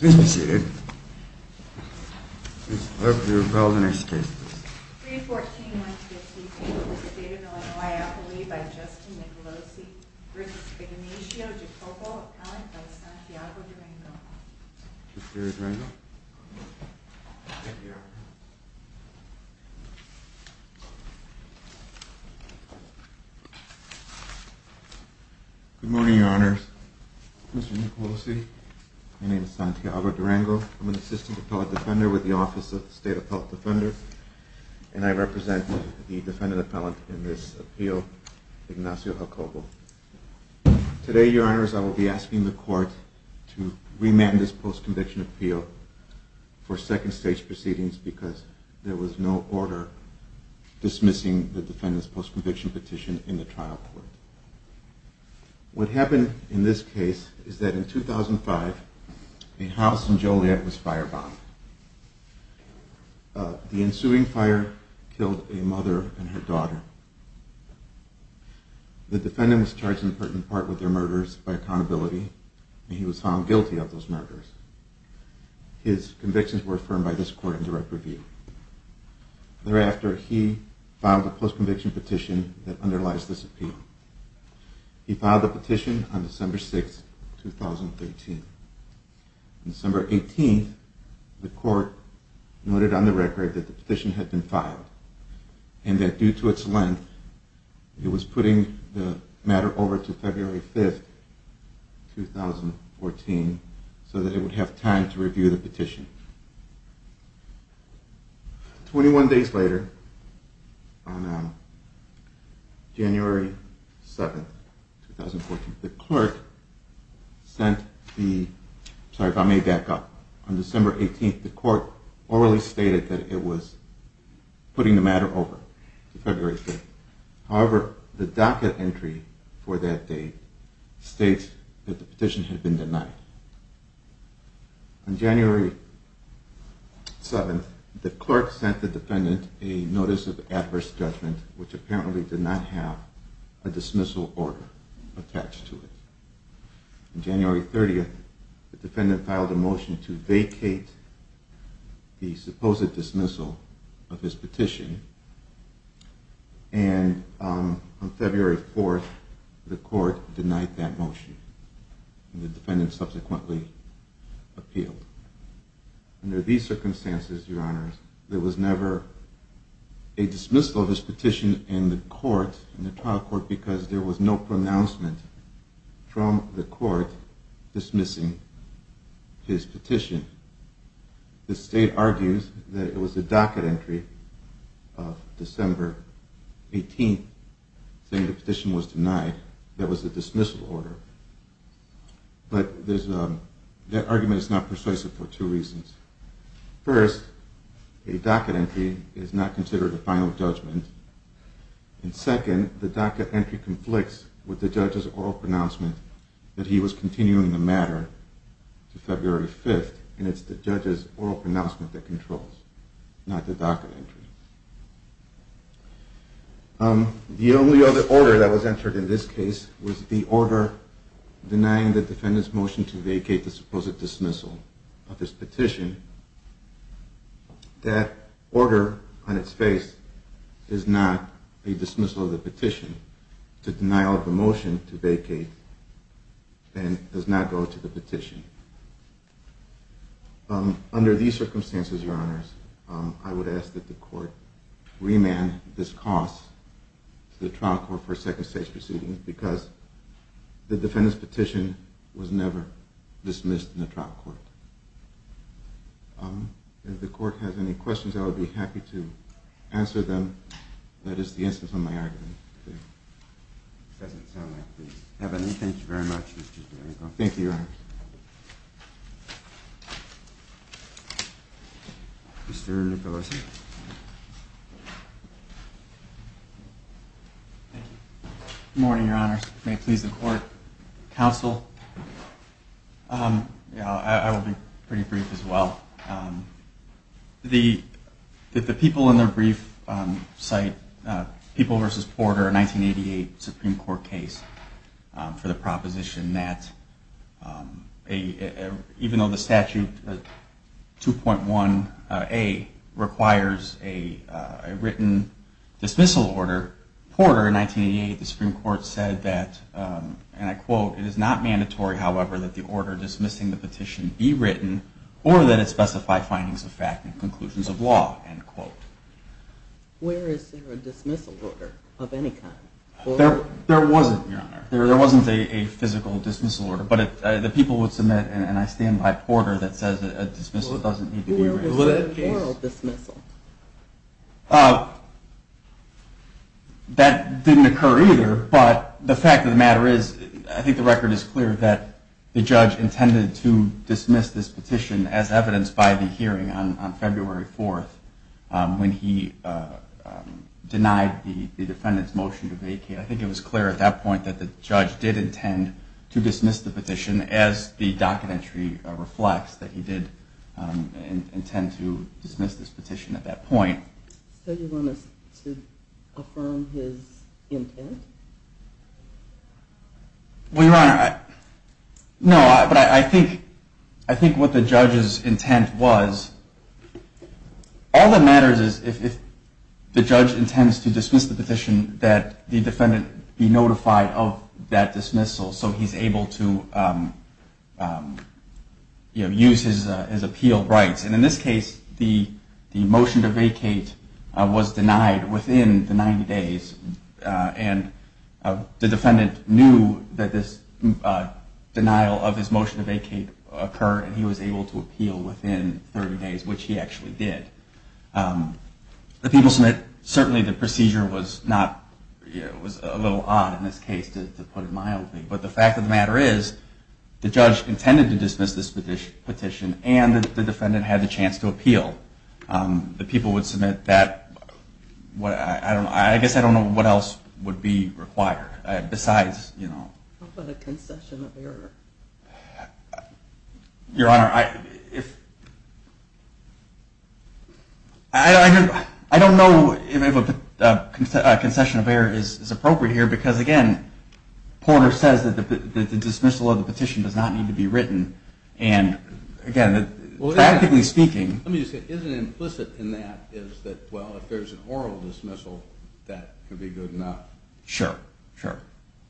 Good morning, your honors. Mr. Nicolosi, my name is Santiago Durango. I'm an assistant appellate defender with the Office of the State Appellate Defender, and I represent the defendant appellant in this appeal, Ignacio Jacobo. Today, your honors, I will be asking the court to remand this post-conviction appeal for second stage proceedings because there was no order dismissing the defendant's post-conviction petition in the trial court. What happened in this case is that in 2005, a house in Joliet was firebombed. The ensuing fire killed a mother and her daughter. The defendant was charged in part with their murders by accountability, and he was found guilty of those murders. His convictions were affirmed by this court in direct review. Thereafter, he filed a post-conviction petition that underlies this appeal. He filed the petition on December 6, 2013. On December 18, the court noted on the record that the petition had been filed, and that due to its length, it was putting the matter over to February 5, 2014, so that it would have time to review the petition. Twenty-one days later, on January 7, 2014, the court, if I may back up, on December 18, the court orally stated that it was putting the matter over to February 5. However, the docket entry for that date states that the petition had been denied. On January 7, the clerk sent the defendant a notice of adverse judgment, which apparently did not have a dismissal order attached to it. On January 30, the defendant filed a motion to vacate the supposed dismissal of his petition, and on February 4, the court denied that motion. The defendant subsequently appealed. Under these circumstances, there was never a dismissal of his petition in the trial court because there was no pronouncement from the court dismissing his petition. The state argues that it was the docket entry of December 18 saying the petition was denied, that it was a dismissal order. But that argument is not persuasive for two reasons. First, a docket entry is not considered a final judgment, and second, the docket entry conflicts with the judge's oral pronouncement that he was continuing the matter to February 5, and it's the judge's oral pronouncement that controls, not the docket entry. The only other order that was entered in this case was the order denying the defendant's motion to vacate the supposed dismissal of his petition. That order on its face is not a dismissal of the petition. Under these circumstances, your honors, I would ask that the court remand this cause to the trial court for a second stage proceeding because the defendant's petition was never dismissed in the trial court. If the court has any questions, I would be happy to answer them. That is the instance on my argument today. If it doesn't sound like it, please have at it. Thank you very much. Thank you, your honors. Mr. Nicolosi. Good morning, your honors. May it please the court, counsel. I will be pretty brief as well. The people in the brief cite People v. Porter, a 1988 Supreme Court case for the proposition that even though the statute 2.1A requires a written dismissal order, Porter in 1988 of the Supreme Court said that, and I quote, it is not mandatory, however, that the order dismissing the petition be written or that it specify findings of fact and conclusions of law, end quote. Where is there a dismissal order of any kind? There wasn't, your honor. There wasn't a physical dismissal order, but the people would submit, and I stand by Porter that says a dismissal doesn't need to be written. There was no oral dismissal. That didn't occur either, but the fact of the matter is, I think the record is clear that the judge intended to dismiss this petition as evidenced by the hearing on February 4th when he denied the defendant's motion to vacate. I think it was clear at that point that the judge did intend to dismiss the petition as the documentary reflects that he did intend to dismiss this petition at that point. So you want us to affirm his intent? Well, your honor, no, but I think what the judge's intent was, all that matters is if the judge intends to dismiss the petition, that the defendant be notified of that dismissal so he's able to use his appeal rights. And in this case, the motion to vacate was denied within the 90 days, and the defendant knew that this denial of his motion to vacate occurred, and he was able to appeal within 30 days, which he actually did. The people submit, certainly the procedure was a little odd in this case, to put it mildly. But the fact of the matter is, the judge intended to dismiss this petition, and the defendant had the chance to appeal. The people would submit that. I guess I don't know what else would be required besides, you know. What about a concession of error? Your honor, I don't know if a concession of error is appropriate here, because again, Porter says that the dismissal of the petition does not need to be written, and again, practically speaking. Let me just say, isn't it implicit in that is that, well, if there's an oral dismissal, that could be good enough? Sure, sure.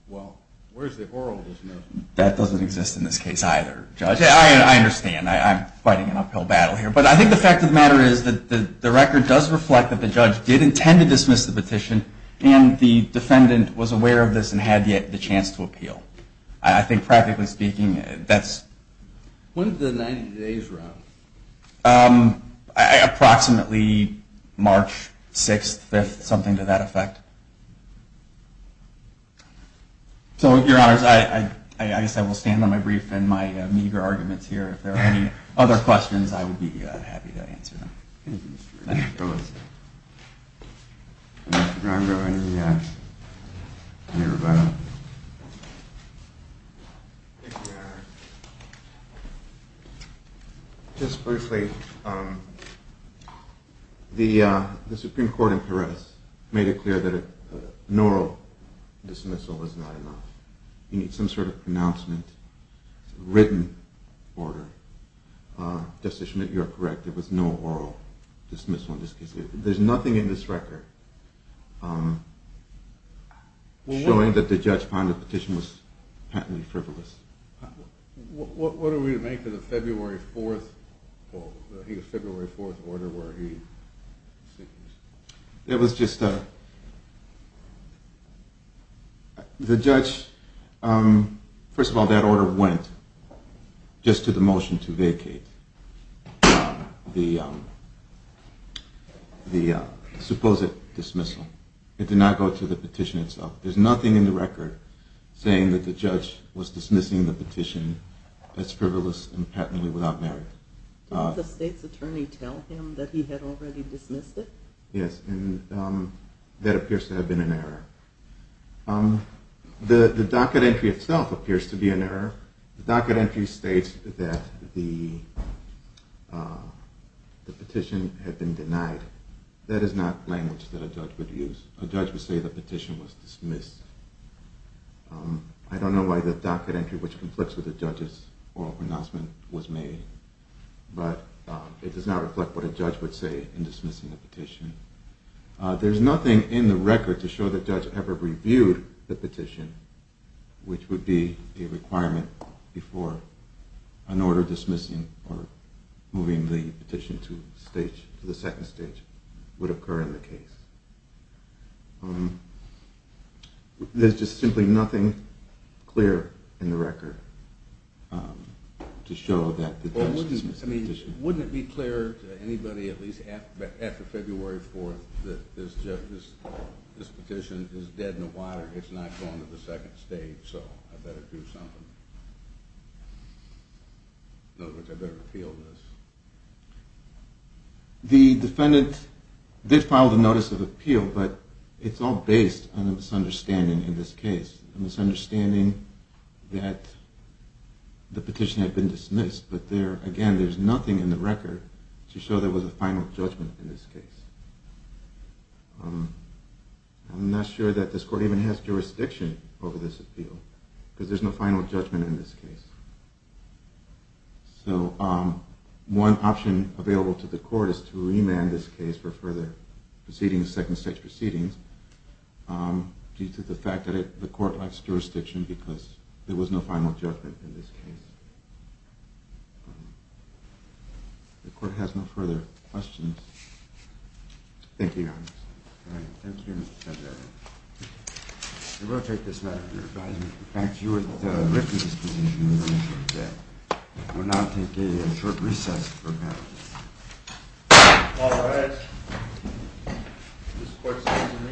Well, where's the oral dismissal? That doesn't exist in this case either, Judge. Yeah, I understand. I'm fighting an uphill battle here. But I think the fact of the matter is that the record does reflect that the judge did intend to dismiss the petition, and the defendant was aware of this and had yet the chance to appeal. I think, practically speaking, that's... When did the 90 days run? Approximately March 6th, 5th, something to that effect. So, your honors, I guess I will stand on my brief and my meager arguments here. If there are any other questions, I would be happy to answer them. Thank you, Mr. Gromgo. Mr. Gromgo, any rebuttals? Thank you, your honor. Just briefly, the Supreme Court in Peres made it clear that an oral dismissal was not enough. You need some sort of pronouncement, written order. Justice Schmidt, you are correct. There was no oral dismissal in this case. There's nothing in this record showing that the judge found the petition was patently frivolous. What are we to make of the February 4th order where he... It was just a... The judge, first of all, that order went just to the motion to vacate. The supposed dismissal. It did not go to the petition itself. There's nothing in the record saying that the judge was dismissing the petition as frivolous and patently without merit. Did the state's attorney tell him that he had already dismissed it? Yes, and that appears to have been an error. The docket entry itself appears to be an error. The docket entry states that the petition had been denied. That is not language that a judge would use. A judge would say the petition was dismissed. I don't know why the docket entry, which conflicts with the judge's oral pronouncement, was made. But it does not reflect what a judge would say in dismissing a petition. There's nothing in the record to show that the judge ever reviewed the petition, which would be a requirement before an order dismissing or moving the petition to the second stage would occur in the case. There's just simply nothing clear in the record to show that the judge dismissed the petition. Wouldn't it be clear to anybody at least after February 4th that this petition is dead in the water, it's not going to the second stage, so I better do something. In other words, I better appeal this. The defendant did file the notice of appeal, but it's all based on a misunderstanding in this case. A misunderstanding that the petition had been dismissed, but again, there's nothing in the record to show there was a final judgment in this case. I'm not sure that this court even has jurisdiction over this appeal, because there's no final judgment in this case. So one option available to the court is to remand this case for further proceedings, second stage proceedings, due to the fact that the court lacks jurisdiction because there was no final judgment in this case. The court has no further questions. Thank you, Your Honor. Thank you, Mr. Secretary. We will take this matter to your advisement. In fact, you were the witness to this petition that was initially dead. We will now take a short recess for the panel. All rise. This court is adjourned in recess.